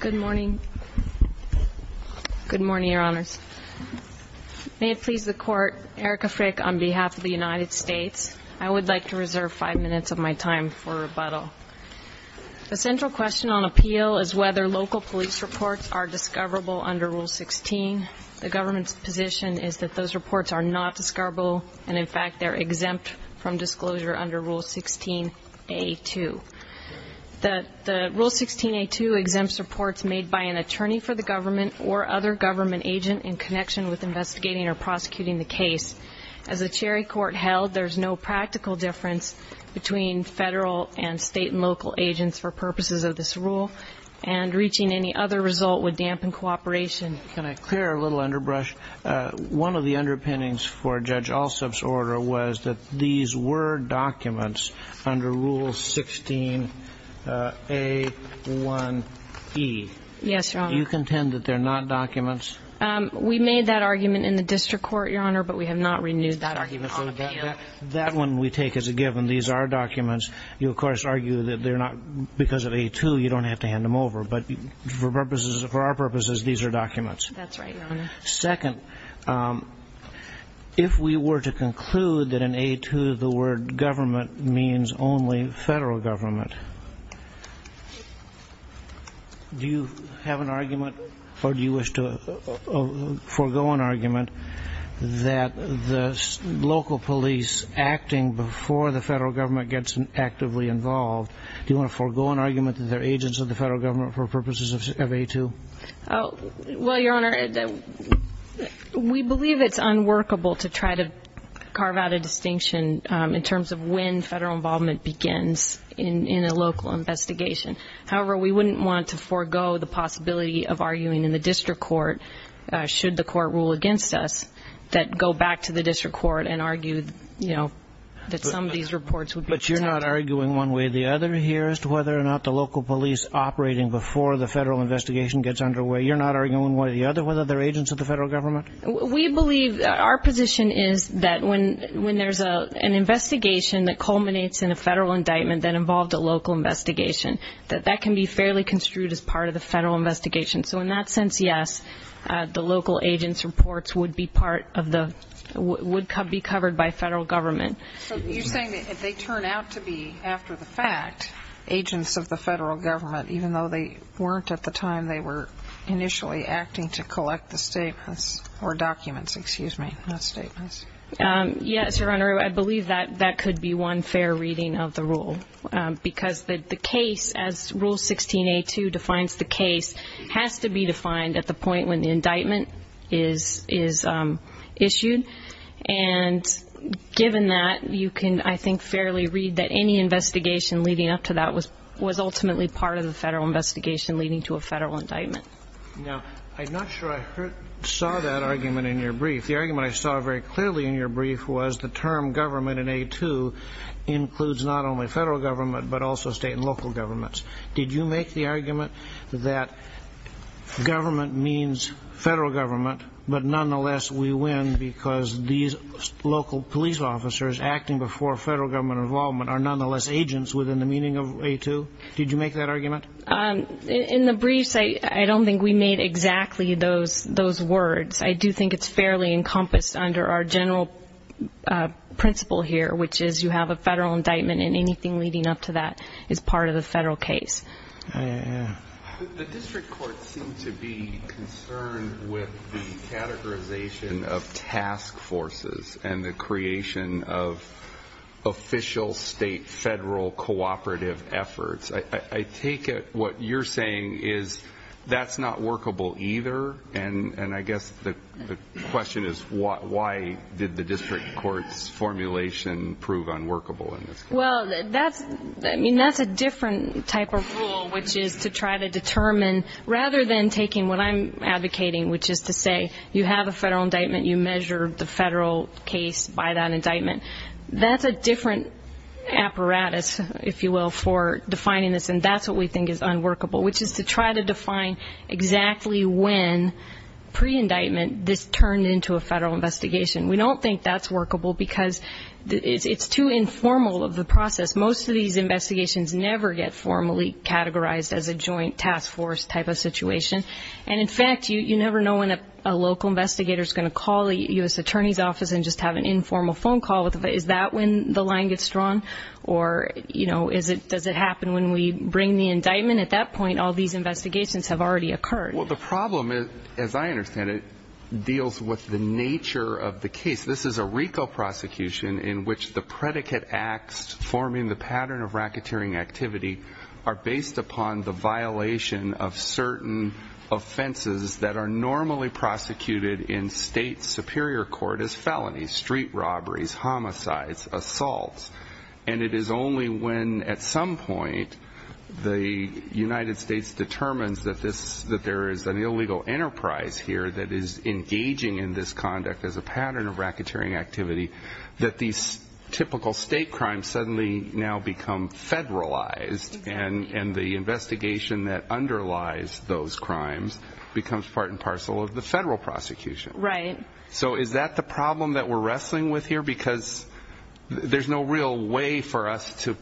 Good morning. Good morning, Your Honors. May it please the Court, Erica Frick on behalf of the United States. I would like to reserve five minutes of my time for rebuttal. The central question on appeal is whether local police reports are discoverable under Rule 16. The government's position is that those reports are not discoverable, and in fact they're exempt from disclosure under Rule 16A2. The Rule 16A2 exempts reports made by an attorney for the government or other government agent in connection with investigating or prosecuting the case. As a Cherry Court held, there's no practical difference between federal and state and local agents for purposes of this rule, and reaching any other result would dampen cooperation. Can I clear a little underbrush? One of the underpinnings for Judge Alsup's argument was that these were documents under Rule 16A1E. Yes, Your Honor. Do you contend that they're not documents? We made that argument in the district court, Your Honor, but we have not renewed that argument on appeal. That one we take as a given. These are documents. You, of course, argue that they're not because of A2, you don't have to hand them over. But for purposes of our purposes, these are documents. That's right, Your Honor. Second, if we were to conclude that in A2 the word government means only federal government, do you have an argument or do you wish to forego an argument that the local police acting before the federal government gets actively involved, do you want to forego an argument that they're agents of the federal government for purposes of A2? Well, Your Honor, we believe it's unworkable to try to carve out a distinction in terms of when federal involvement begins in a local investigation. However, we wouldn't want to forego the possibility of arguing in the district court, should the court rule against us, that go back to the district court and argue, you know, that some of these reports would be protected. But you're not arguing one way or the other here as to whether or not the local police operating before the federal investigation gets underway. You're not arguing one way or the other whether they're agents of the federal government? We believe, our position is that when there's an investigation that culminates in a federal indictment that involved a local investigation, that that can be fairly construed as part of the federal investigation. So in that sense, yes, the local agents' reports would be part of the, would be covered by federal government. So you're saying that if they turn out to be, after the fact, agents of the federal government, even though they weren't at the time they were initially acting to collect the statements, or documents, excuse me, not statements. Yes, Your Honor, I believe that that could be one fair reading of the rule. Because the case, as Rule 16A2 defines the case, has to be defined at the point when the indictment is issued. And given that, you can, I think, fairly read that any investigation leading up to that was ultimately part of the federal investigation leading to a federal indictment. Now, I'm not sure I saw that argument in your brief. The argument I saw very clearly in your brief was the term government in A2 includes not only federal government, but also state and local governments. Did you make the argument that government means federal government, but nonetheless we win because these local police officers acting before federal government involvement are nonetheless agents within the meaning of A2? Did you make that argument? In the briefs, I don't think we made exactly those words. I do think it's fairly encompassed under our general principle here, which is you have a federal indictment and anything leading up to that is part of the federal case. The district courts seem to be concerned with the categorization of task forces and the creation of official state-federal cooperative efforts. I take it what you're saying is that's not workable either? And I guess the question is why did the district court's formulation prove unworkable in this case? Well, that's a different type of rule, which is to try to determine, rather than taking what I'm advocating, which is to say you have a federal indictment, you measure the federal case by that indictment. That's a different apparatus, if you will, for defining this, and that's what we think is unworkable, which is to try to define exactly when, pre-indictment, this turned into a federal investigation. We don't think that's workable because it's too informal of a process. Most of these investigations never get formally categorized as a joint task force type of situation, and in fact, you never know when a local investigator's going to call a U.S. attorney's office and just have an informal phone call. Is that when the line gets drawn, or does it happen when we bring the indictment? At that point, all these investigations have already occurred. Well, the problem, as I understand it, deals with the nature of the case. This is a RICO prosecution in which the predicate acts forming the pattern of racketeering activity are based upon the violation of certain offenses that are normally prosecuted in state superior court as felonies, street robberies, homicides, assaults, and it is only when, at some point, the United States determines that there is an illegal enterprise here that is engaging in this conduct as a pattern of racketeering activity that these typical state crimes suddenly now become federalized, and the investigation that underlies those crimes becomes part and parcel of the federal prosecution. So is that the problem that we're wrestling with here? Because there's no real way for us to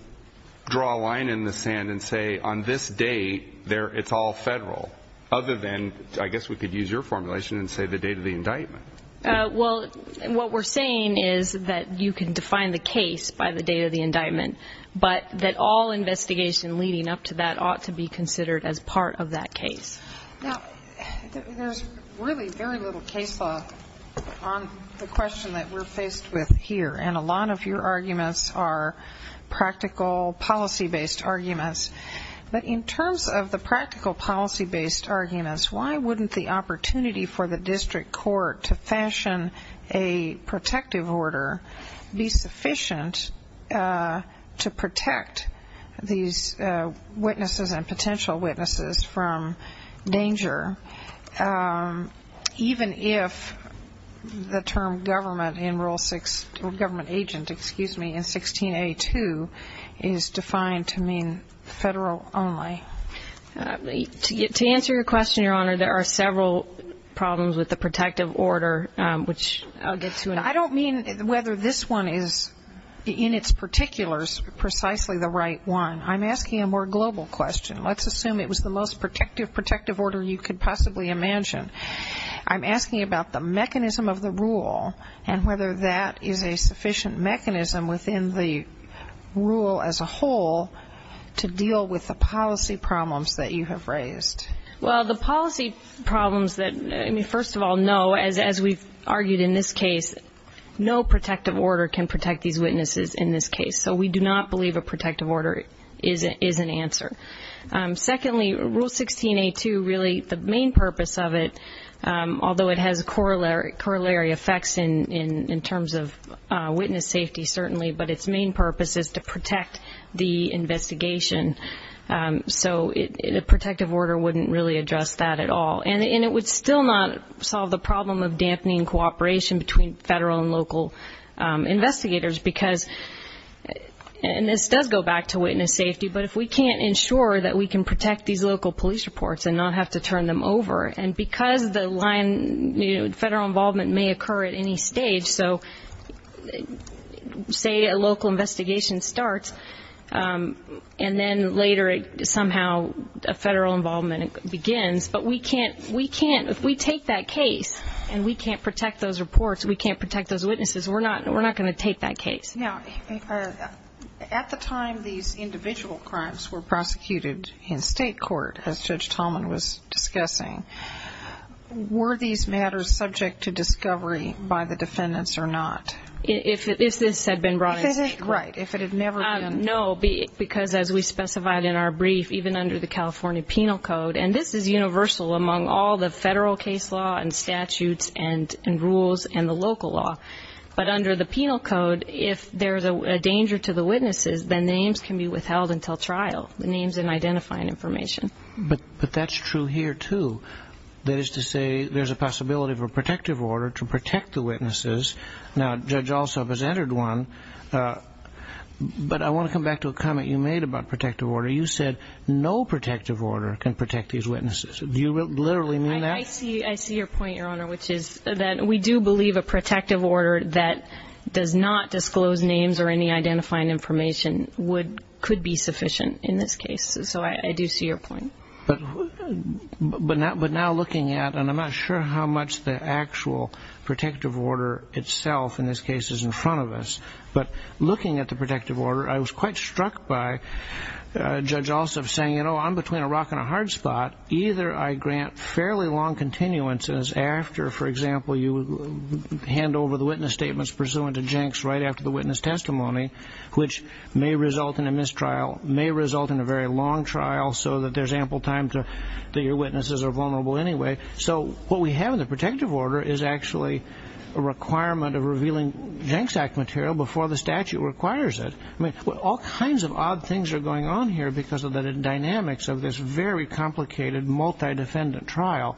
draw a line in the sand and say, on this date, it's all federal, other than, I guess, the indictment. Well, what we're saying is that you can define the case by the date of the indictment, but that all investigation leading up to that ought to be considered as part of that case. Now, there's really very little case law on the question that we're faced with here, and a lot of your arguments are practical policy-based arguments, but in terms of the practical policy-based arguments, why wouldn't the opportunity for the district court to fashion a protective order be sufficient to protect these witnesses and potential witnesses from danger, even if the term government in Rule 6, or government agent, excuse me, in 16A2 is defined to mean federal only? To answer your question, Your Honor, there are several problems with the protective order, which I'll get to in a moment. I don't mean whether this one is, in its particulars, precisely the right one. I'm asking a more global question. Let's assume it was the most protective order you could possibly imagine. I'm asking about the mechanism of the rule and whether that is a sufficient mechanism within the rule as a whole to deal with the policy problems that you have raised. Well, the policy problems that, I mean, first of all, no, as we've argued in this case, no protective order can protect these witnesses in this case, so we do not believe a protective order is an answer. Secondly, Rule 16A2, really the main purpose of it, although it has corollary effects in terms of witness safety, certainly, but its main purpose is to protect the investigation. So a protective order wouldn't really address that at all. And it would still not solve the problem of dampening cooperation between federal and local investigators, because, and this does go back to witness safety, but if we can't ensure that we can protect these local police reports and not have to turn them over, and because the line, you know, doesn't occur at any stage, so say a local investigation starts, and then later somehow a federal involvement begins, but we can't, we can't, if we take that case and we can't protect those reports, we can't protect those witnesses, we're not going to take that case. At the time these individual crimes were prosecuted in state court, as Judge Tallman was discussing, were these matters subject to discovery by the defendants or not? If this had been brought in. Right, if it had never been. No, because as we specified in our brief, even under the California Penal Code, and this is universal among all the federal case law and statutes and rules and the local law, but under the Penal Code, if there's a danger to the witnesses, then the names can be withheld until trial, the names and identifying information. But that's true here too, that is to say, there's a possibility of a protective order to protect the witnesses, now Judge Alsop has entered one, but I want to come back to a comment you made about protective order, you said no protective order can protect these witnesses, do you literally mean that? I see your point, Your Honor, which is that we do believe a protective order that does not disclose names or any identifying information could be sufficient in this case, so I do see your point. But now looking at, and I'm not sure how much the actual protective order itself in this case is in front of us, but looking at the protective order, I was quite struck by Judge Alsop saying, you know, I'm between a rock and a hard spot, either I grant fairly long continuances after, for example, you hand over the witness statements pursuant to Jenks right after the witness testimony, which may result in a mistrial, may result in a very long trial, so that there's ample time that your witnesses are vulnerable anyway. So what we have in the protective order is actually a requirement of revealing Jenks Act material before the statute requires it. All kinds of odd things are going on here because of the dynamics of this very complicated multi-defendant trial.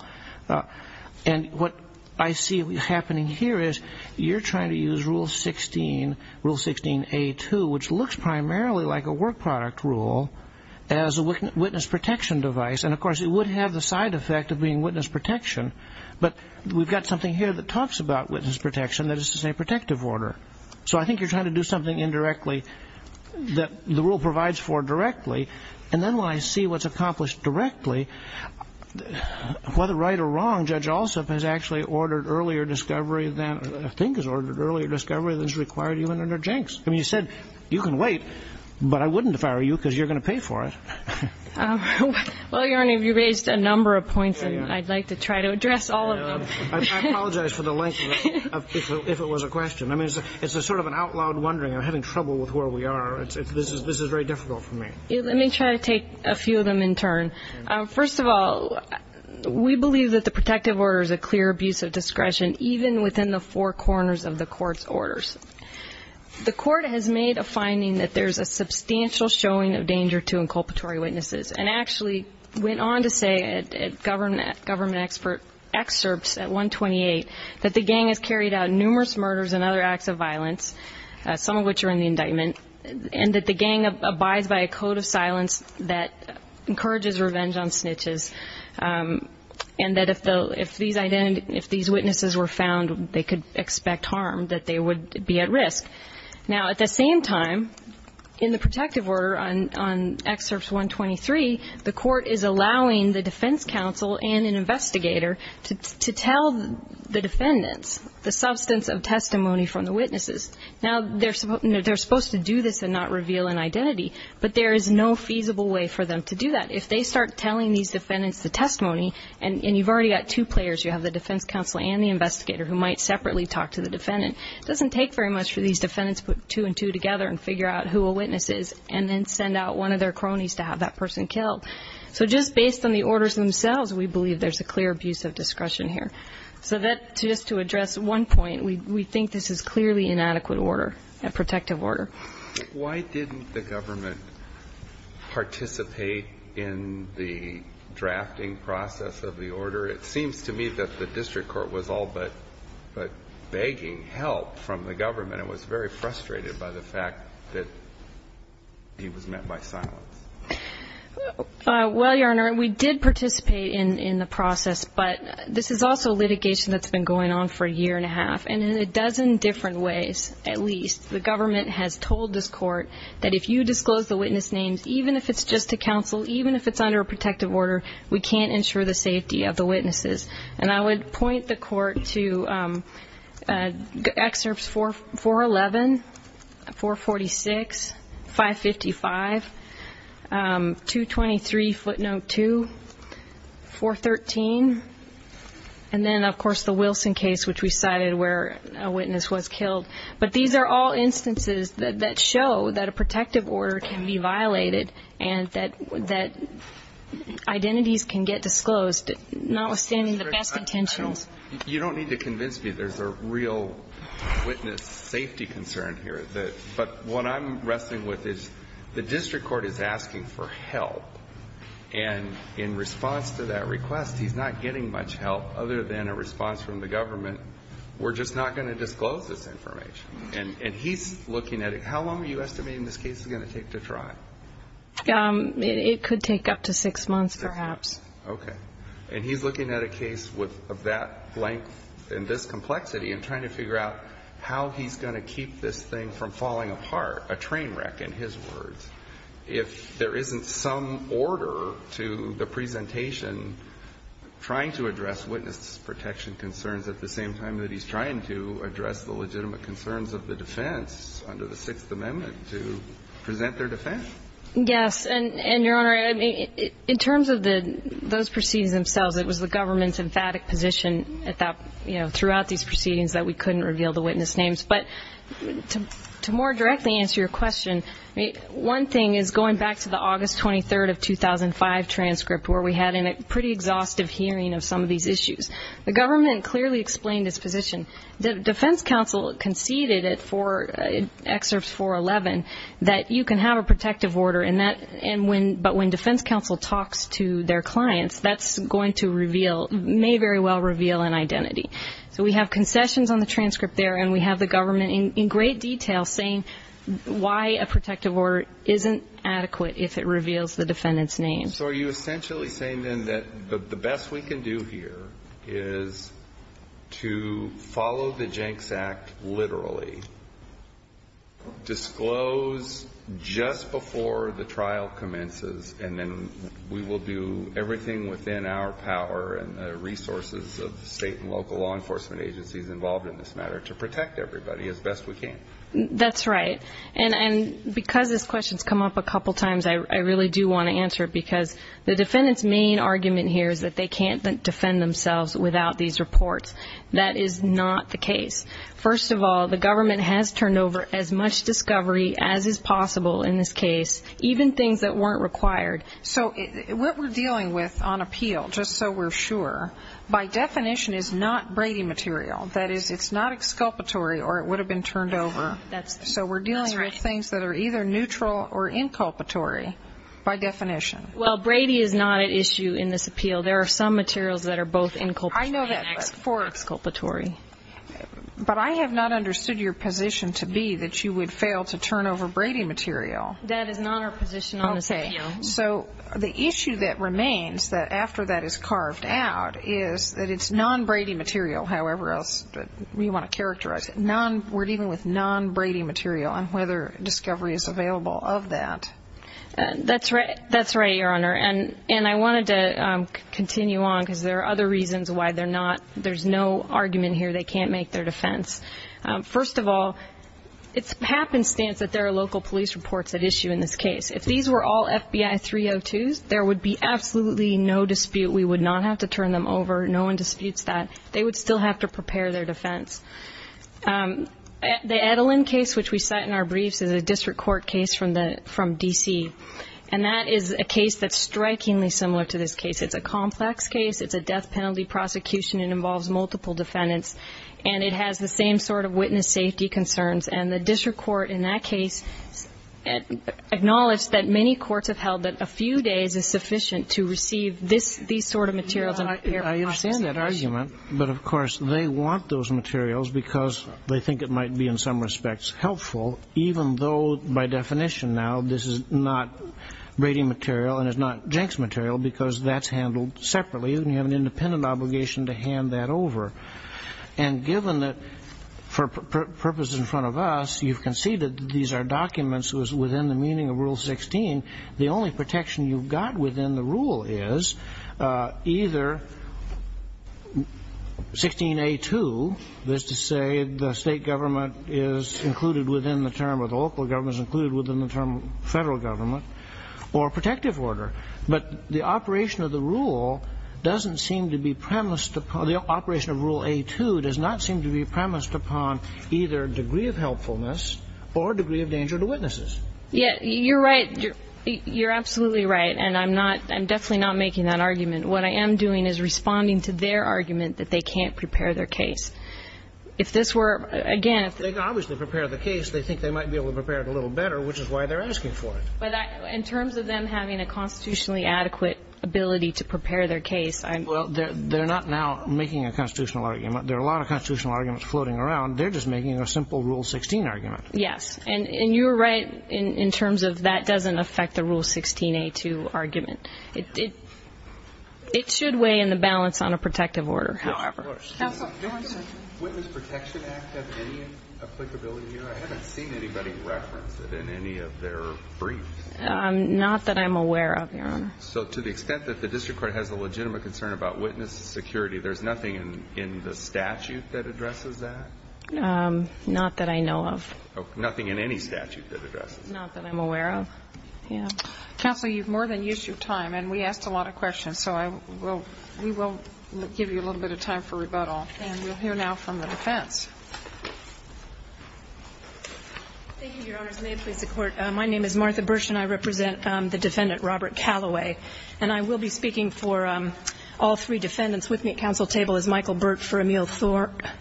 And what I see happening here is you're trying to use Rule 16, Rule 16A2, which looks primarily like a work product rule, as a witness protection device, and of course, it would have the side effect of being witness protection, but we've got something here that talks about witness protection that is a protective order. So I think you're trying to do something indirectly that the rule provides for directly, and then when I see what's accomplished directly, whether right or wrong, Judge Alsop has actually ordered earlier discovery than, I think has ordered earlier discovery than is required even under Jenks. I mean, you said you can wait, but I wouldn't if I were you because you're going to pay for it. Well, Your Honor, you raised a number of points, and I'd like to try to address all of them. I apologize for the length of it, if it was a question. I mean, it's a sort of an out loud wondering, I'm having trouble with where we are. This is very difficult for me. Let me try to take a few of them in turn. First of all, we believe that the protective order is a clear abuse of discretion, even within the four corners of the court's orders. The court has made a finding that there's a substantial showing of danger to inculpatory witnesses, and actually went on to say at government excerpts at 128 that the gang has carried out numerous murders and other acts of violence, some of which are in the indictment, and that the gang abides by a code of silence that encourages revenge on snitches, and that if these witnesses were found, they could expect harm, that they would be at risk. Now at the same time, in the protective order on excerpts 123, the court is allowing the defense counsel and an investigator to tell the defendants the substance of testimony from the witnesses. Now they're supposed to do this and not reveal an identity, but there is no feasible way for them to do that. If they start telling these defendants the testimony, and you've already got two players, you have the defense counsel and the investigator who might separately talk to the defendant, it doesn't take very much for these defendants to put two and two together and figure out who a witness is, and then send out one of their cronies to have that person killed. So just based on the orders themselves, we believe there's a clear abuse of discretion here. So just to address one point, we think this is clearly inadequate order, a protective order. Why didn't the government participate in the drafting process of the order? It seems to me that the district court was all but begging help from the government and was very frustrated by the fact that he was met by silence. Well, Your Honor, we did participate in the process, but this is also litigation that's been going on for a year and a half, and in a dozen different ways, at least. The government has told this court that if you disclose the witness names, even if it's just to counsel, even if it's under a protective order, we can't ensure the safety of the witnesses. And I would point the court to excerpts 411, 446, 555, 223 footnote 2, 413, and then, of course, the Wilson case, which we cited where a witness was killed. But these are all instances that show that a protective order can be violated and that identities can get disclosed, notwithstanding the best intentions. You don't need to convince me there's a real witness safety concern here. But what I'm wrestling with is the district court is asking for help, and in response to that request, he's not getting much help other than a response from the government. We're just not going to disclose this information. And he's looking at it. How long are you estimating this case is going to take to try? It could take up to six months, perhaps. Okay. And he's looking at a case of that length and this complexity and trying to figure out how he's going to keep this thing from falling apart, a train wreck in his words, if there isn't some order to the presentation trying to address witness protection concerns at the same time that he's trying to address the legitimate concerns of the defense under the Sixth Amendment to present their defense. Yes, and, Your Honor, in terms of those proceedings themselves, it was the government's emphatic position throughout these proceedings that we couldn't reveal the witness names. But to more directly answer your question, one thing is going back to the August 23rd of 2005 transcript where we had a pretty exhaustive hearing of some of these issues. The government clearly explained its position. The defense counsel conceded in excerpts 411 that you can have a protective order, but when defense counsel talks to their clients, that's going to reveal, may very well reveal an identity. So we have concessions on the transcript there, and we have the government in great detail saying why a protective order isn't adequate if it reveals the defendant's name. So are you essentially saying then that the best we can do here is to follow the Jenks Act literally, disclose just before the trial commences, and then we will do everything within our power and the resources of the state and local law enforcement agencies involved in this matter to protect everybody as best we can? That's right. And because this question has come up a couple of times, I really do want to answer it because the defendant's main argument here is that they can't defend themselves without these reports. That is not the case. First of all, the government has turned over as much discovery as is possible in this case, even things that weren't required. So what we're dealing with on appeal, just so we're sure, by definition is not Brady material. That is, it's not exculpatory or it would have been turned over. So we're dealing with things that are either neutral or inculpatory by definition. Well, Brady is not an issue in this appeal. There are some materials that are both inculpatory and exculpatory. But I have not understood your position to be that you would fail to turn over Brady material. That is not our position on this appeal. So the issue that remains after that is carved out is that it's non-Brady material, however else you want to characterize it. We're dealing with non-Brady material on whether discovery is available of that. That's right, Your Honor. And I wanted to continue on because there are other reasons why there's no argument here they can't make their defense. First of all, it's happenstance that there are local police reports at issue in this case. If these were all FBI 302s, there would be absolutely no dispute. We would not have to turn them over. No one disputes that. They would still have to prepare their defense. The Adeline case, which we cite in our briefs, is a district court case from D.C. And that is a case that's strikingly similar to this case. It's a complex case. It's a death penalty prosecution. It involves multiple defendants. And it has the same sort of witness safety concerns. And the district court in that case acknowledged that many courts have held that a few days is sufficient to receive these sort of materials. I understand that argument. But of course, they want those materials because they think it might be, in some respects, helpful, even though, by definition now, this is not Brady material and it's not Jenks material because that's handled separately and you have an independent obligation to hand that over. And given that, for purposes in front of us, you've conceded that these are documents that was within the meaning of Rule 16, the only protection you've got within the rule is either 16A2, that is to say the state government is included within the term or the local government is included within the term of federal government, or protective order. But the operation of the rule doesn't seem to be premised upon the operation of Rule A2 does not seem to be premised upon either degree of helpfulness or degree of danger to witnesses. Yeah, you're right. You're absolutely right. And I'm not, I'm definitely not making that argument. What I am doing is responding to their argument that they can't prepare their case. If this were, again, if they could obviously prepare the case, they think they might be able to prepare it a little better, which is why they're asking for it. In terms of them having a constitutionally adequate ability to prepare their case, I'm Well, they're not now making a constitutional argument. There are a lot of constitutional arguments floating around. They're just making a simple Rule 16 argument. Yes. And you're right in terms of that doesn't affect the Rule 16A2 argument. It should weigh in the balance on a protective order, however. Counsel. Do I see the Witness Protection Act have any applicability here? I haven't seen anybody reference it in any of their briefs. Not that I'm aware of, Your Honor. So to the extent that the district court has a legitimate concern about witness security, there's nothing in the statute that addresses that? Not that I know of. Nothing in any statute that addresses that. Not that I'm aware of. Counsel, you've more than used your time, and we asked a lot of questions, so we will give you a little bit of time for rebuttal, and we'll hear now from the defense. Thank you, Your Honors. May it please the Court. My name is Martha Bursch, and I represent the defendant, Robert Calloway, and I will be speaking for all three defendants with me at counsel table as Michael Burt for Sattras,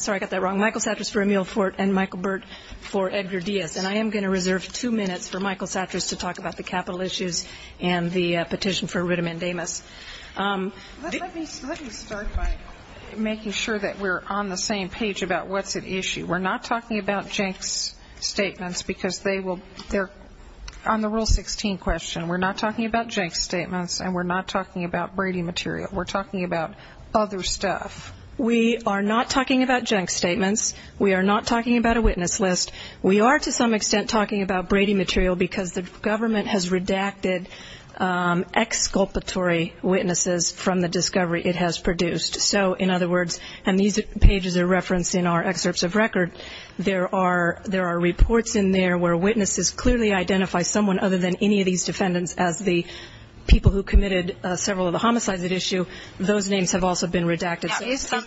sorry, I got that wrong, Michael Sattras for Emile Fort and Michael Burt for Edgar Diaz, and I am going to reserve two minutes for Michael Sattras to talk about the capital issues and the petition for Ritam and Amos. Let me start by making sure that we're on the same page about what's at issue. We're not talking about Jenk's statements because they will, on the Rule 16 question, we're not talking about Jenk's statements, and we're not talking about Brady material. We're talking about other stuff. We are not talking about Jenk's statements. We are not talking about a witness list. We are, to some extent, talking about Brady material because the government has redacted ex-sculptory witnesses from the discovery it has produced. So in other words, and these pages are referenced in our excerpts of record, there are reports in there where witnesses clearly identify someone other than any of these defendants as the people who committed several of the homicides at issue. Those names have also been redacted.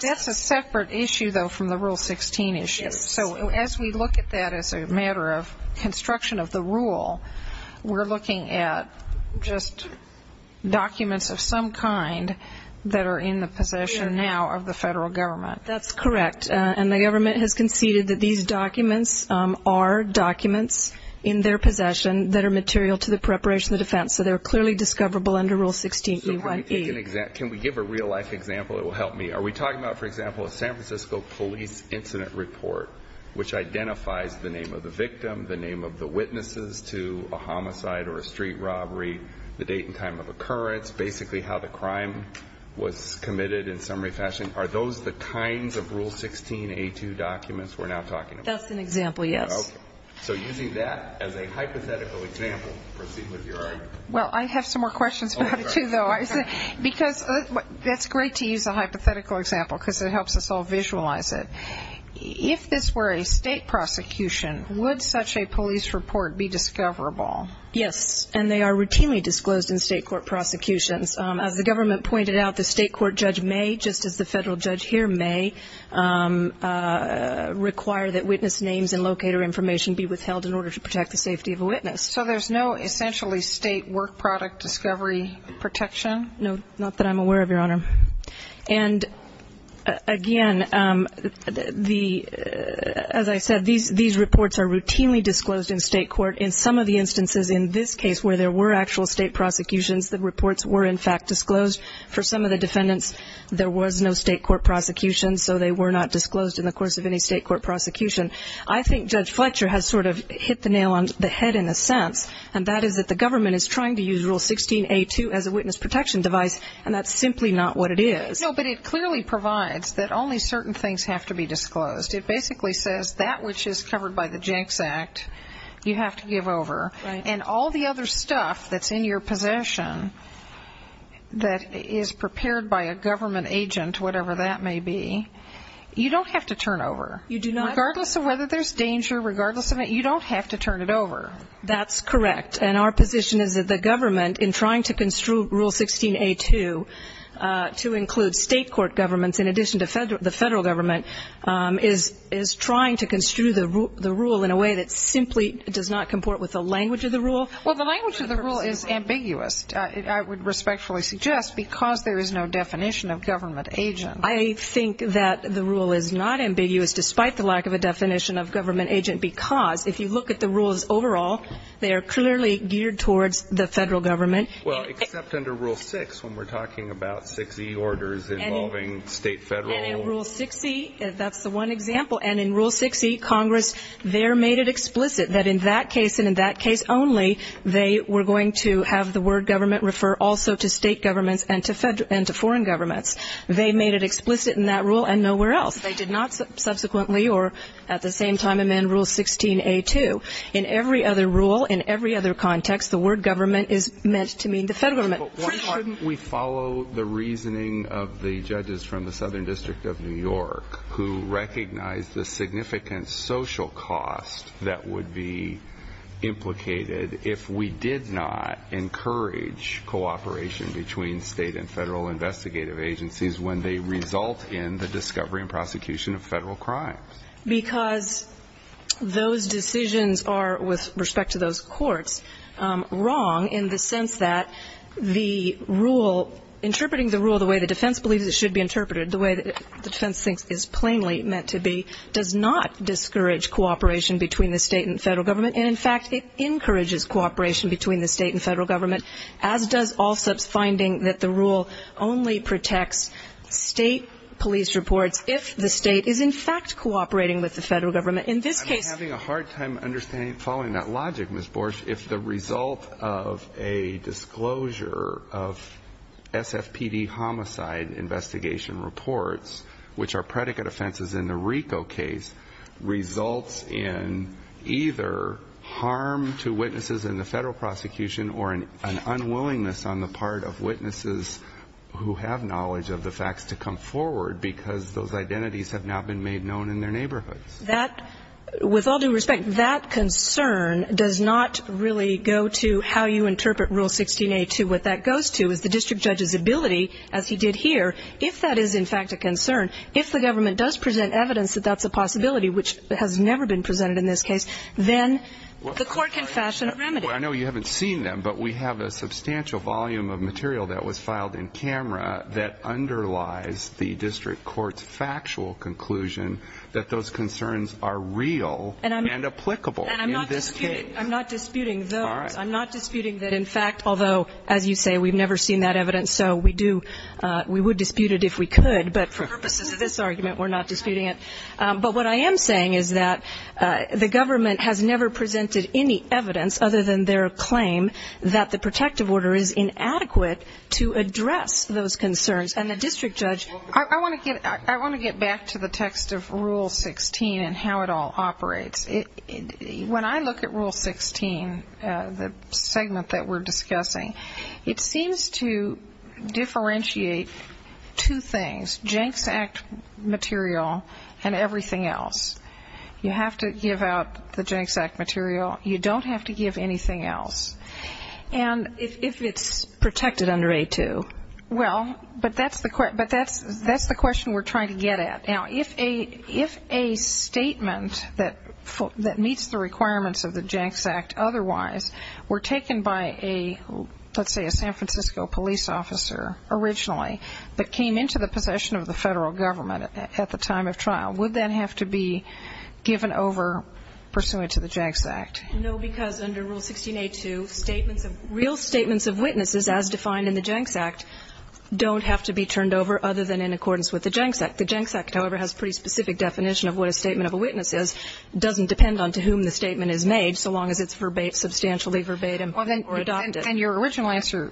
That's a separate issue, though, from the Rule 16 issue. So as we look at that as a matter of construction of the rule, we're looking at just documents of some kind that are in the possession now of the federal government. That's correct, and the government has conceded that these documents are documents in their possession that are material to the preparation of the defense, so they're clearly discoverable under Rule 16E1E. So can we give a real-life example that will help me? Are we talking about, for example, a San Francisco police incident report which identifies the name of the victim, the name of the witnesses to a homicide or a street robbery, the date and time of occurrence, basically how the crime was committed in summary fashion? Are those the kinds of Rule 16A2 documents we're now talking about? That's an example, yes. Okay. So using that as a hypothetical example, proceed with your argument. Well, I have some more questions about it, too, though. Because it's great to use a hypothetical example because it helps us all visualize it. If this were a state prosecution, would such a police report be discoverable? Yes, and they are routinely disclosed in state court prosecutions. As the government pointed out, the state court judge may, just as the federal judge here may, require that witness names and locator information be withheld in order to protect the safety of a witness. So there's no essentially state work product discovery protection? No, not that I'm aware of, Your Honor. And again, as I said, these reports are routinely disclosed in state court. In some of the instances in this case where there were actual state prosecutions, the reports were, in fact, disclosed. For some of the defendants, there was no state court prosecution, so they were not disclosed in the course of any state court prosecution. I think Judge Fletcher has sort of hit the nail on the head in a sense, and that is that the government is trying to use Rule 16A2 as a witness protection device, and that's simply not what it is. No, but it clearly provides that only certain things have to be disclosed. It basically says that which is covered by the Jenks Act, you have to give over. And all the other stuff that's in your possession that is prepared by a government agent, whatever that may be, you don't have to turn over. You do not. Regardless of whether there's danger, regardless of it, you don't have to turn it over. That's correct. And our position is that the government, in trying to construe Rule 16A2 to include state court governments in addition to the Federal government, is trying to construe the rule in a way that simply does not comport with the language of the rule. Well, the language of the rule is ambiguous, I would respectfully suggest, because there is no definition of government agent. I think that the rule is not ambiguous, despite the lack of a definition of government agent, because if you look at the rules overall, they are clearly geared towards the Federal government. Well, except under Rule 6, when we're talking about 6E orders involving state, Federal. And in Rule 6E, that's the one example. And in Rule 6E, Congress there made it explicit that in that case and in that case only, they were going to have the word government refer also to state governments and to foreign governments. They made it explicit in that rule and nowhere else. They did not subsequently or at the same time amend Rule 16A2. In every other rule, in every other context, the word government is meant to mean the Federal government. But why shouldn't we follow the reasoning of the judges from the Southern District of New York, who recognized the significant social cost that would be implicated if we did not encourage cooperation between state and Federal investigative agencies when they result in the discovery and prosecution of Federal crimes? Because those decisions are, with respect to those courts, wrong in the sense that the rule, interpreting the rule the way the defense believes it should be interpreted, the way that the defense thinks it is plainly meant to be, does not discourage cooperation between the state and Federal government. And in fact, it encourages cooperation between the state and Federal government, as does ALSEP's finding that the rule only protects state police reports if the state is in fact cooperating with the Federal government. In this case – I'm having a hard time understanding, following that logic, Ms. Borsch, if the result of a disclosure of SFPD homicide investigation reports, which are predicate offenses in the RICO case, results in either harm to witnesses in the Federal prosecution or an unwillingness on the part of witnesses who have knowledge of the facts to come forward because those identities have now been made known in their neighborhoods. With all due respect, that concern does not really go to how you interpret Rule 16a2. What that goes to is the district judge's ability, as he did here, if that is in fact a concern, if the government does present evidence that that's a possibility, which has never been presented in this case, then the court can fashion a remedy. Well, I know you haven't seen them, but we have a substantial volume of material that was filed in camera that underlies the district court's factual conclusion that those concerns are real and applicable in this case. And I'm not disputing those. I'm not disputing that, in fact, although, as you say, we've never seen that evidence, and so we do, we would dispute it if we could, but for purposes of this argument, we're not disputing it. But what I am saying is that the government has never presented any evidence other than their claim that the protective order is inadequate to address those concerns. And the district judge... I want to get back to the text of Rule 16 and how it all operates. When I look at Rule 16, the segment that we're discussing, it seems to differentiate two things, Jenks Act material and everything else. You have to give out the Jenks Act material. You don't have to give anything else. And if it's protected under A2... Well, but that's the question we're trying to get at. Now, if a statement that meets the requirements of the Jenks Act otherwise were taken by a, let's say, a San Francisco police officer originally, but came into the possession of the federal government at the time of trial, would that have to be given over pursuant to the Jenks Act? No, because under Rule 16A2, real statements of witnesses as defined in the Jenks Act don't have to be turned over other than in accordance with the Jenks Act. The Jenks Act, however, has a pretty specific definition of what a statement of a witness is. It doesn't depend on to whom the statement is made, so long as it's substantially verbatim or adopted. And your original answer,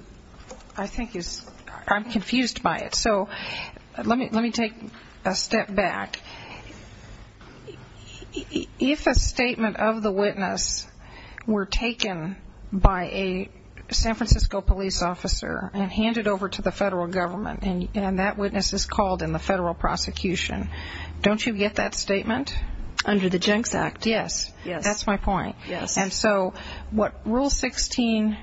I think, is I'm confused by it. So let me take a step back. If a statement of the witness were taken by a San Francisco police officer and handed over to the federal government and that witness is called in the federal prosecution, don't you get that statement? Under the Jenks Act. Yes. Yes. That's my point. Yes. And so what Rule 16A2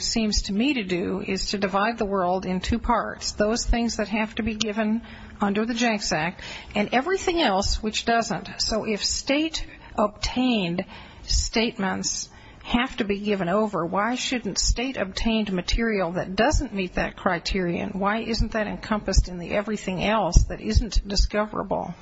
seems to me to do is to divide the world in two parts, those things that have to be given under the Jenks Act, and everything else which doesn't. So if state-obtained statements have to be given over, why shouldn't state-obtained material that doesn't meet that criterion, why isn't that encompassed in the everything else that isn't discoverable?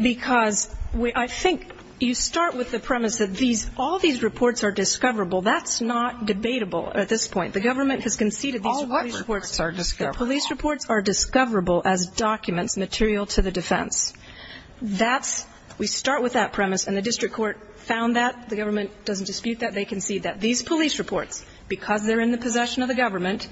Because I think you start with the premise that all these reports are discoverable. That's not debatable at this point. The government has conceded these police reports are discoverable as documents material to the defense. We start with that premise, and the district court found that. The government doesn't dispute that. They concede that. These police reports, because they're in the possession of the government,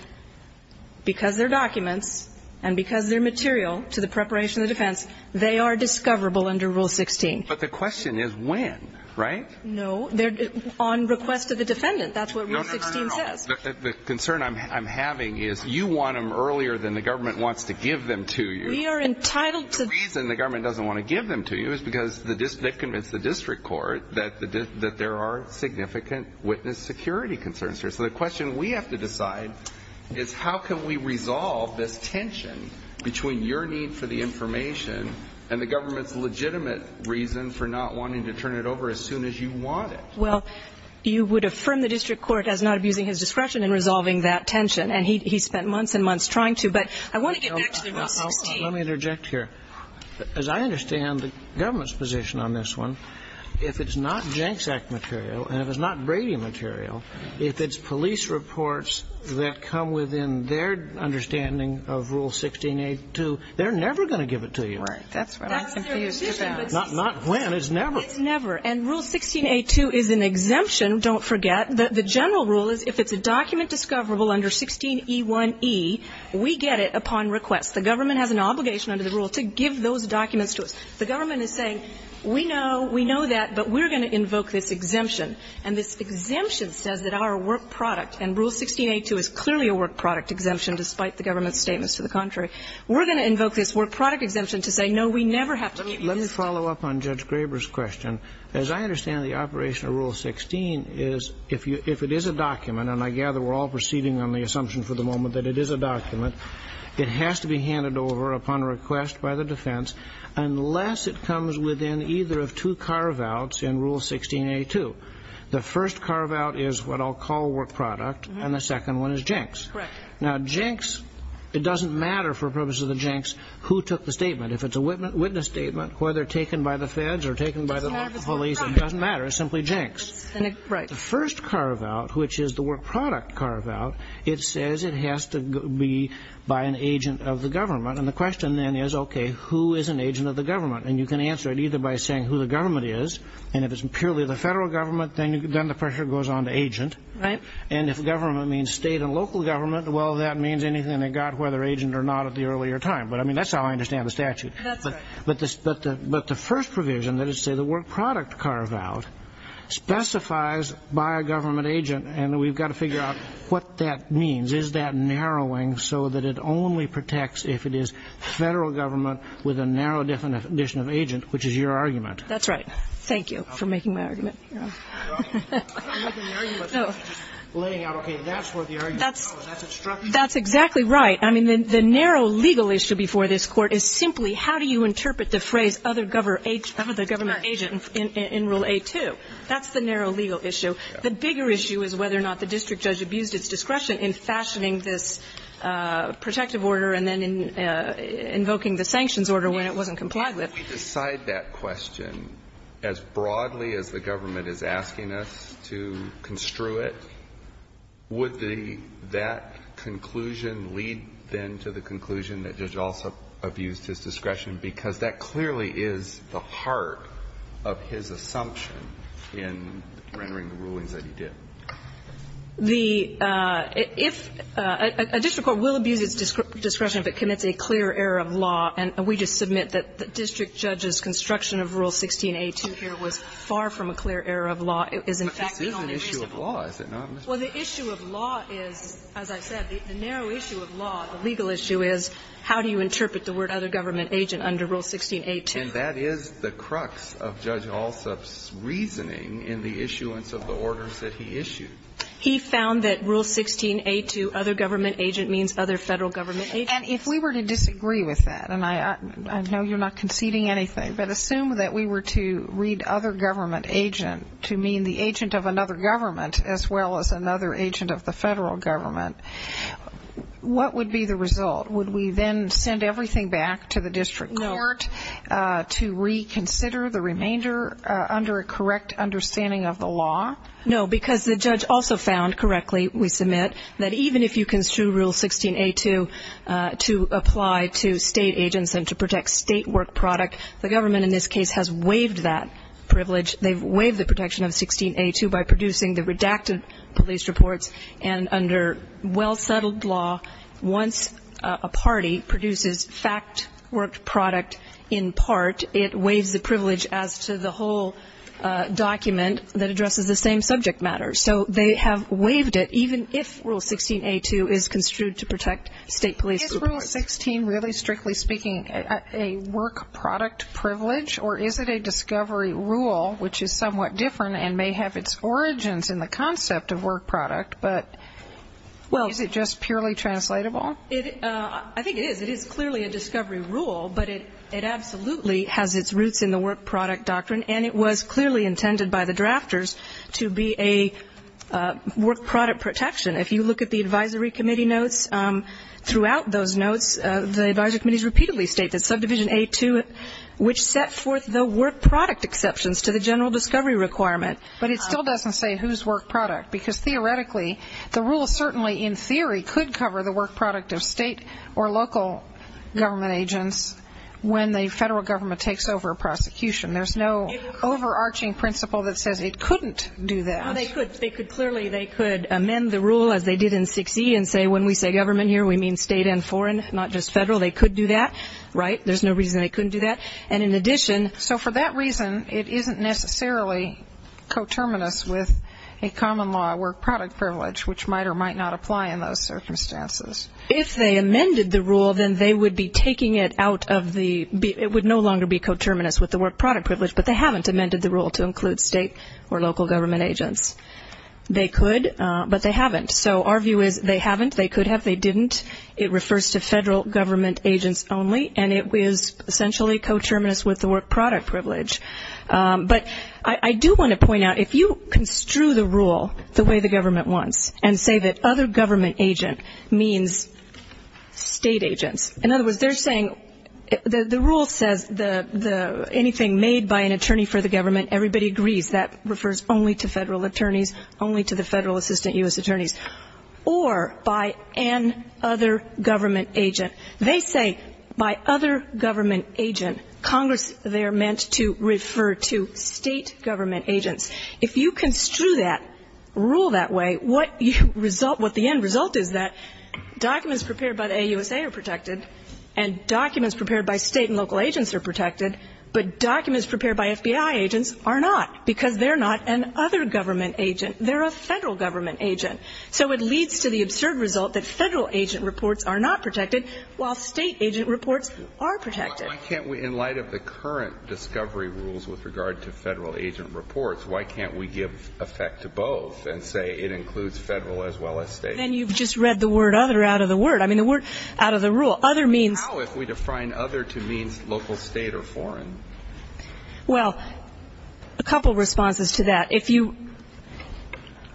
because they're documents, and because they're material to the preparation of the defense, they are discoverable under Rule 16. But the question is when, right? No, they're on request of the defendant. That's what Rule 16 says. No, no, no, no, no. The concern I'm having is you want them earlier than the government wants to give them to you. We are entitled to the reason the government doesn't want to give them to you is because they convinced the district court that there are significant witness security concerns here. So the question we have to decide is how can we resolve this tension between your need for the information and the government's legitimate reason for not wanting to turn it over as soon as you want it? Well, you would affirm the district court as not abusing his discretion in resolving that tension, and he spent months and months trying to. But I want to get back to the Rule 16. Let me interject here. As I understand the government's position on this one, if it's not Janks Act material and if it's not Brady material, if it's police reports that come within their understanding of Rule 16a2, they're never going to give it to you. Right. That's what I'm confused about. Not when. It's never. It's never. And Rule 16a2 is an exemption, don't forget. The general rule is if it's a document discoverable under 16e1e, we get it upon request. The government has an obligation under the rule to give those documents to us. The government is saying, we know, we know that, but we're going to invoke this exemption. And this exemption says that our work product, and Rule 16a2 is clearly a work product exemption despite the government's statements to the contrary. We're going to invoke this work product exemption to say, no, we never have to give you this. Let me follow up on Judge Graber's question. As I understand the operation of Rule 16 is if you – if it is a document, and I gather we're all proceeding on the assumption for the moment that it is a document, it has to be handed over upon request by the defense unless it comes within either of two carve-outs in Rule 16a2. The first carve-out is what I'll call work product, and the second one is jinx. Correct. Now, jinx, it doesn't matter for purposes of the jinx who took the statement. If it's a witness statement, whether taken by the feds or taken by the local police, it doesn't matter. It's simply jinx. Right. But the first carve-out, which is the work product carve-out, it says it has to be by an agent of the government, and the question then is, okay, who is an agent of the government? And you can answer it either by saying who the government is, and if it's purely the federal government, then the pressure goes on to agent. Right. And if government means state and local government, well, that means anything that got whether agent or not at the earlier time. But I mean, that's how I understand the statute. That's right. But the first provision, let us say the work product carve-out, specifies by a government agent, and we've got to figure out what that means. Is that narrowing so that it only protects if it is federal government with a narrow definition of agent, which is your argument? That's right. Thank you for making my argument. I'm not making an argument, I'm just laying out, okay, that's where the argument comes from, that's instruction. That's exactly right. I mean, the narrow legal issue before this Court is simply how do you interpret the phrase other government agent in Rule 8-2. That's the narrow legal issue. The bigger issue is whether or not the district judge abused its discretion in fashioning this protective order and then invoking the sanctions order when it wasn't complied with. If we decide that question as broadly as the government is asking us to construe it, would that conclusion lead, then, to the conclusion that the judge also abused his discretion, because that clearly is the heart of his assumption in rendering the rulings that he did? The – if – a district court will abuse its discretion if it commits a clear error of law. And we just submit that the district judge's construction of Rule 16a-2 here was far from a clear error of law. It is, in fact, the only reasonable. And that is the crux of Judge Alsop's reasoning in the issuance of the orders that he issued. He found that Rule 16a-2, other government agent, means other Federal government agent. And if we were to disagree with that, and I know you're not conceding anything, but assume that we were to read other government agent to mean the agent of another government as well as another agent of the Federal government, what would be the result? Would we then send everything back to the district court to reconsider the remainder under a correct understanding of the law? No, because the judge also found correctly, we submit, that even if you construe Rule 16a-2 to apply to state agents and to protect state work product, the government in this case has waived that privilege. They've waived the protection of 16a-2 by producing the redacted police reports. And under well-settled law, once a party produces fact work product in part, it waives the privilege as to the whole document that addresses the same subject matter. So they have waived it, even if Rule 16a-2 is construed to protect state police reports. Is Rule 16 really, strictly speaking, a work product privilege, or is it a discovery rule, which is somewhat different and may have its origins in the concept of work product, but is it just purely translatable? I think it is. It is clearly a discovery rule, but it absolutely has its roots in the work product doctrine, and it was clearly intended by the drafters to be a work product protection. If you look at the advisory committee notes, throughout those notes, the advisory committee notes, there are work product exceptions to the general discovery requirement, but it still doesn't say whose work product, because theoretically, the rule certainly, in theory, could cover the work product of state or local government agents when the federal government takes over a prosecution. There's no overarching principle that says it couldn't do that. Well, they could. Clearly, they could amend the rule, as they did in 16e, and say when we say government here, we mean state and foreign, not just federal. They could do that. Right? There's no reason they couldn't do that. And in addition... So for that reason, it isn't necessarily coterminous with a common law, work product privilege, which might or might not apply in those circumstances. If they amended the rule, then they would be taking it out of the, it would no longer be coterminous with the work product privilege, but they haven't amended the rule to include state or local government agents. They could, but they haven't. So our view is they haven't, they could have, they didn't. It refers to federal government agents only, and it is essentially coterminous. It is essentially coterminous with the work product privilege. But I do want to point out, if you construe the rule the way the government wants, and say that other government agent means state agents. In other words, they're saying, the rule says anything made by an attorney for the government, everybody agrees. That refers only to federal attorneys, only to the federal assistant U.S. attorneys. Or by an other government agent. They say by other government agent. Congress, they're meant to refer to state government agents. If you construe that, rule that way, what you result, what the end result is that, documents prepared by the AUSA are protected, and documents prepared by state and local agents are protected, but documents prepared by FBI agents are not, because they're not an other government agent. They're a federal government agent. So it leads to the absurd result that federal agent reports are not protected, while state agent reports are protected. Why can't we, in light of the current discovery rules with regard to federal agent reports, why can't we give effect to both, and say it includes federal as well as state? Then you've just read the word other out of the word. I mean, the word out of the rule. Other means How if we define other to mean local state or foreign? Well, a couple responses to that. If you,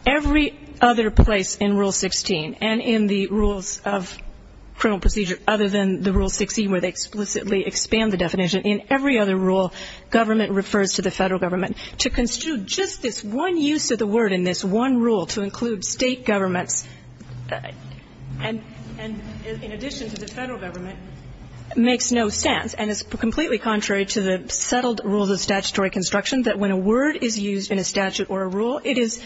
every other place in Rule 16, and in the rules of criminal where they explicitly expand the definition, in every other rule, government refers to the federal government. To construe just this one use of the word in this one rule to include state governments, and in addition to the federal government, makes no sense. And it's completely contrary to the settled rules of statutory construction that when a word is used in a statute or a rule, it is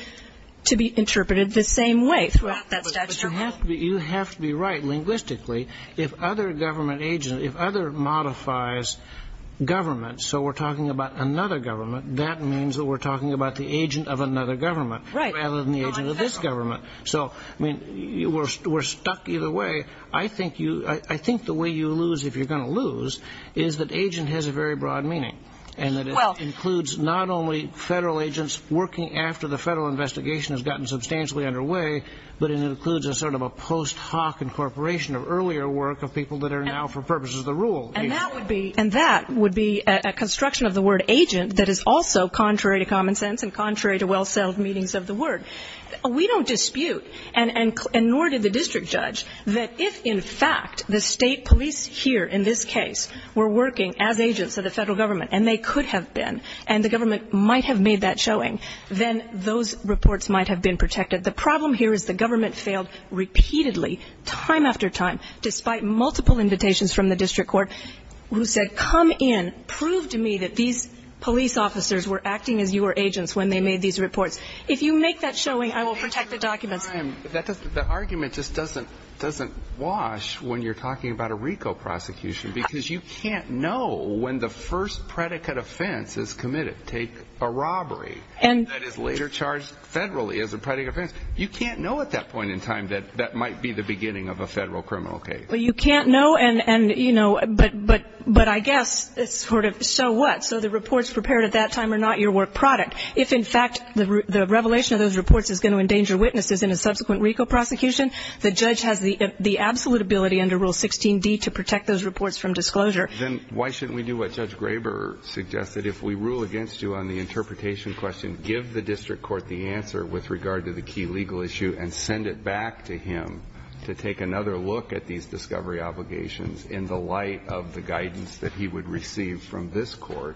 to be interpreted the same way throughout that statutory rule. You have to be right linguistically. If other government agents, if other modifies government, so we're talking about another government, that means that we're talking about the agent of another government rather than the agent of this government. So, I mean, we're stuck either way. I think the way you lose, if you're going to lose, is that agent has a very broad meaning. And that it includes not only federal agents working after the federal investigation has gotten substantially underway, but it includes a sort of a post hoc incorporation of earlier work of people that are now, for purposes of the rule. And that would be a construction of the word agent that is also contrary to common sense and contrary to well-settled meanings of the word. We don't dispute, and nor did the district judge, that if, in fact, the state police here, in this case, were working as agents of the federal government, and they could have been, and the government might have made that showing, then those reports might have been protected. The problem here is the government failed repeatedly, time after time, despite multiple invitations from the district court, who said, come in, prove to me that these police officers were acting as your agents when they made these reports. If you make that showing, I will protect the documents. The argument just doesn't wash when you're talking about a RICO prosecution, because you can't know when the first predicate offense is committed. Take a robbery that is later charged federally as a predicate offense. You can't know at that point in time that that might be the beginning of a federal criminal case. Well, you can't know, but I guess, so what? So the reports prepared at that time are not your work product. If, in fact, the revelation of those reports is going to endanger witnesses in a subsequent RICO prosecution, the judge has the absolute ability under Rule 16d to protect those reports from disclosure. Then why shouldn't we do what Judge Graber suggested? If we rule against you on the interpretation question, give the district court the answer with regard to the key legal issue and send it back to him to take another look at these discovery obligations in the light of the guidance that he would receive from this court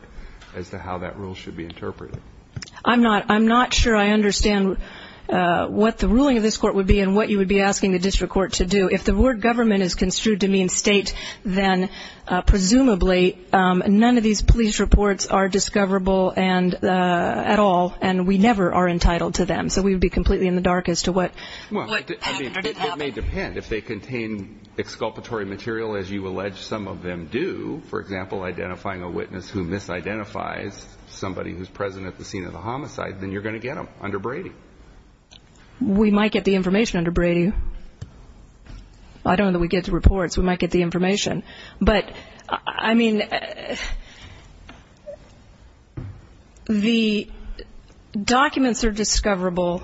as to how that rule should be interpreted. I'm not sure I understand what the ruling of this court would be and what you would be asking the district court to do. If the word government is construed to mean state, then presumably none of these police reports are discoverable at all, and we never are entitled to them. So we would be completely in the dark as to what... Well, it may depend. If they contain exculpatory material, as you allege some of them do, for example, identifying a witness who misidentifies somebody who's present at the scene of the homicide, then you're going to get them under Brady. We might get the information under Brady. I don't know that we get the reports. We might get the information. But, I mean... The documents are discoverable.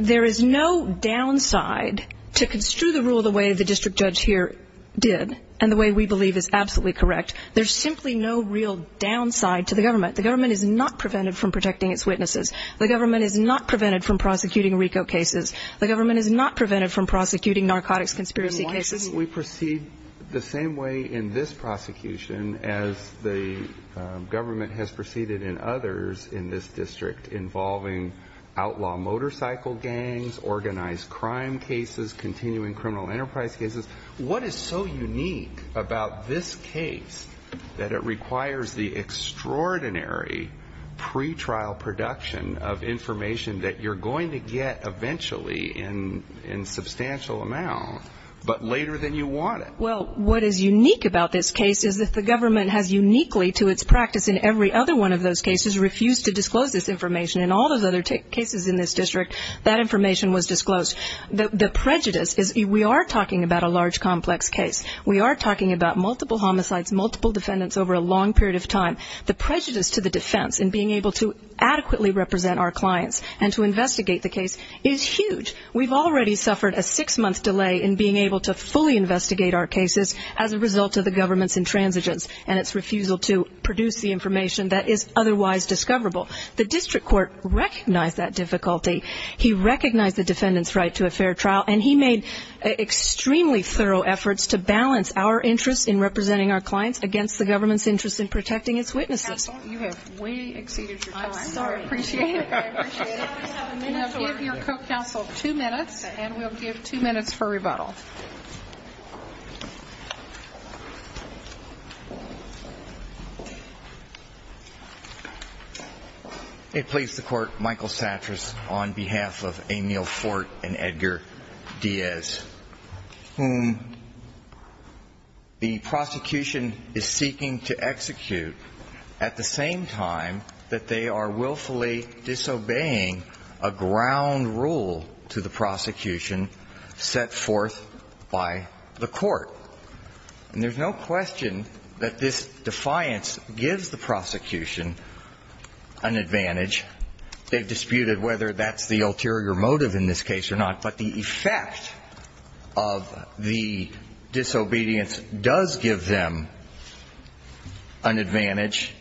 There is no downside to construe the rule the way the district judge here did and the way we believe is absolutely correct. There's simply no real downside to the government. The government is not prevented from protecting its witnesses. The government is not prevented from prosecuting RICO cases. The government is not prevented from prosecuting narcotics conspiracy cases. Why didn't we proceed the same way in this prosecution as the government has proceeded in others in this district involving outlaw motorcycle gangs, organized crime cases, continuing criminal enterprise cases? What is so unique about this case that it requires the extraordinary pre-trial production of information that you're going to get eventually in substantial amount but later than you want it? Well, what is unique about this case is that the government has uniquely to its practice in every other one of those cases refused to disclose this information in all those other cases in this district that information was disclosed. The prejudice is... We are talking about a large complex case. We are talking about multiple homicides, multiple defendants over a long period of time. The prejudice to the defense in being able to adequately represent our clients and to investigate the case is huge. We've already suffered a six-month delay in being able to fully investigate our cases as a result of the government's intransigence and its refusal to produce the information that is otherwise discoverable. The district court recognized that difficulty. He recognized the defendant's right to a fair trial and he made extremely thorough efforts to balance our interest in representing our clients against the government's interest in protecting its witnesses. Counsel, you have way exceeded your time. I'm sorry. I appreciate it. Give your co-counsel two minutes and we'll give two minutes for rebuttal. May it please the Court, Michael Satras on behalf of Amiel Fort and Edgar Diaz whom the prosecution is seeking to execute at the same time that they are willfully disobeying a ground rule to the prosecution set forth by the court. And there's no question that this defiance gives the prosecution an advantage. They've disputed whether that's the ulterior motive in this case or not but the effect of the disobedience does give them an advantage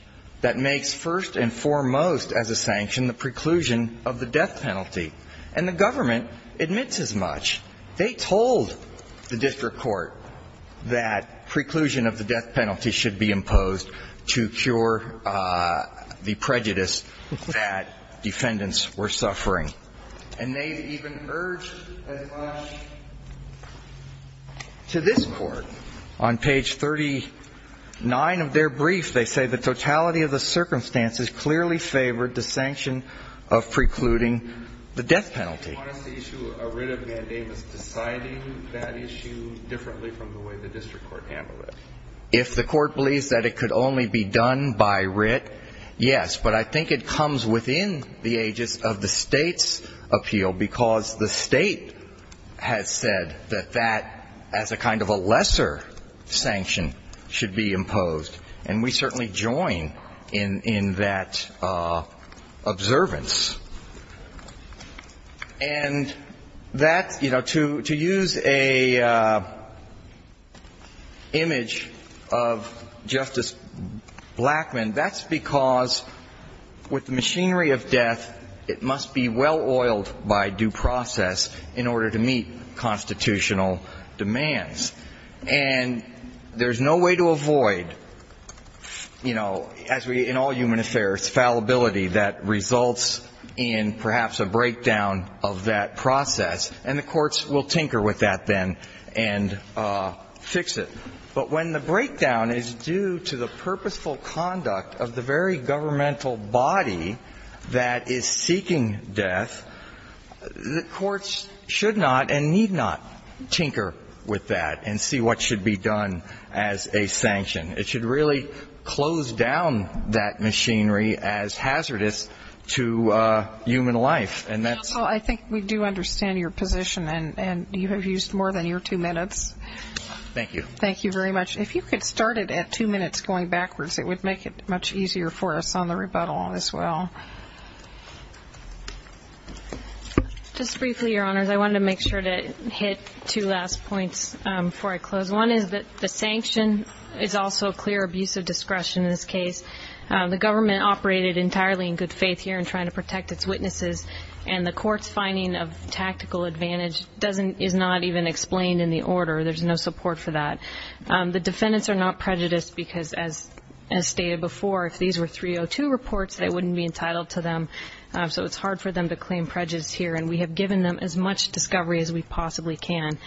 that makes first and foremost as a sanction the preclusion of the death penalty and the government admits as much. They told the district court that preclusion of the death penalty should be imposed to cure the prejudice that defendants were suffering and they've even urged as much to this court on page 39 of their brief they say the totality of the circumstances clearly favored the sanction of precluding the death penalty. Why is the issue of a writ of mandamus deciding that issue differently from the way the district court handled it? If the court believes that it could only be done by writ yes, but I think it comes within the ages of the state's appeal because the state has said that that as a kind of a lesser sanction should be imposed and we certainly join in that observance and that, you know, to use a image of Justice Blackmun, that's because with the machinery of death it must be well oiled by due process in order to meet constitutional demands and there's no way to avoid you know in all human affairs, fallibility that results in perhaps a breakdown of that process and the courts will tinker with that then and fix it. But when the breakdown is due to the purposeful conduct of the very governmental body that is seeking death the courts should not and need not tinker with that and see what should be done as a sanction. It should really close down that machinery as hazardous to human life and that's I think we do understand your position and you have used more than your two minutes Thank you. Thank you very much If you could start it at two minutes going backwards it would make it much easier for us on the rebuttal as well Just briefly your honors I wanted to make sure to hit two last points before I close One is that the sanction is also a clear abuse of discretion in this case. The government operated entirely in good faith here in trying to protect its witnesses and the courts finding of tactical advantage is not even explained in the order. There's no support for that The defendants are not prejudiced because as stated before if these were 302 reports they wouldn't be entitled to them so it's hard for them to claim prejudice here and we have given them as much discovery as we possibly can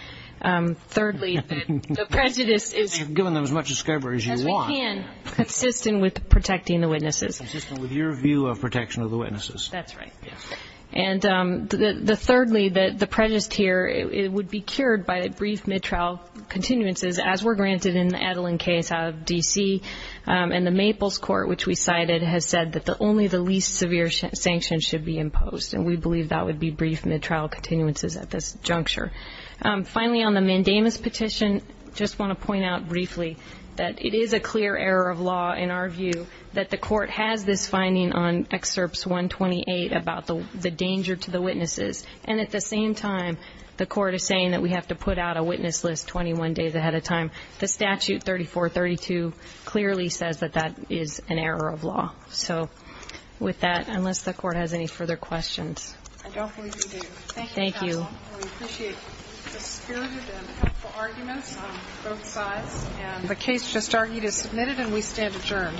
Thirdly, the prejudice You've given them as much discovery as you want Consistent with protecting the witnesses Consistent with your view of protection of the witnesses And thirdly the prejudice here would be cured by brief mid-trial continuances as were granted in the Adeline case out of D.C. And the Maples Court which we cited has said that only the least severe sanctions should be imposed and we believe that would be brief mid-trial continuances at this juncture Finally on the mandamus petition just want to point out briefly that it is a clear error of law in our view that the court has this finding on excerpts 128 about the danger to the witnesses and at the same time the court is saying that we have to put out a witness list 21 days ahead of time The statute 3432 clearly says that that is an error of law So with that, unless the court has any further questions I don't believe we do Thank you counsel We appreciate the spirited and helpful arguments on both sides and the case just argued is submitted and we stand adjourned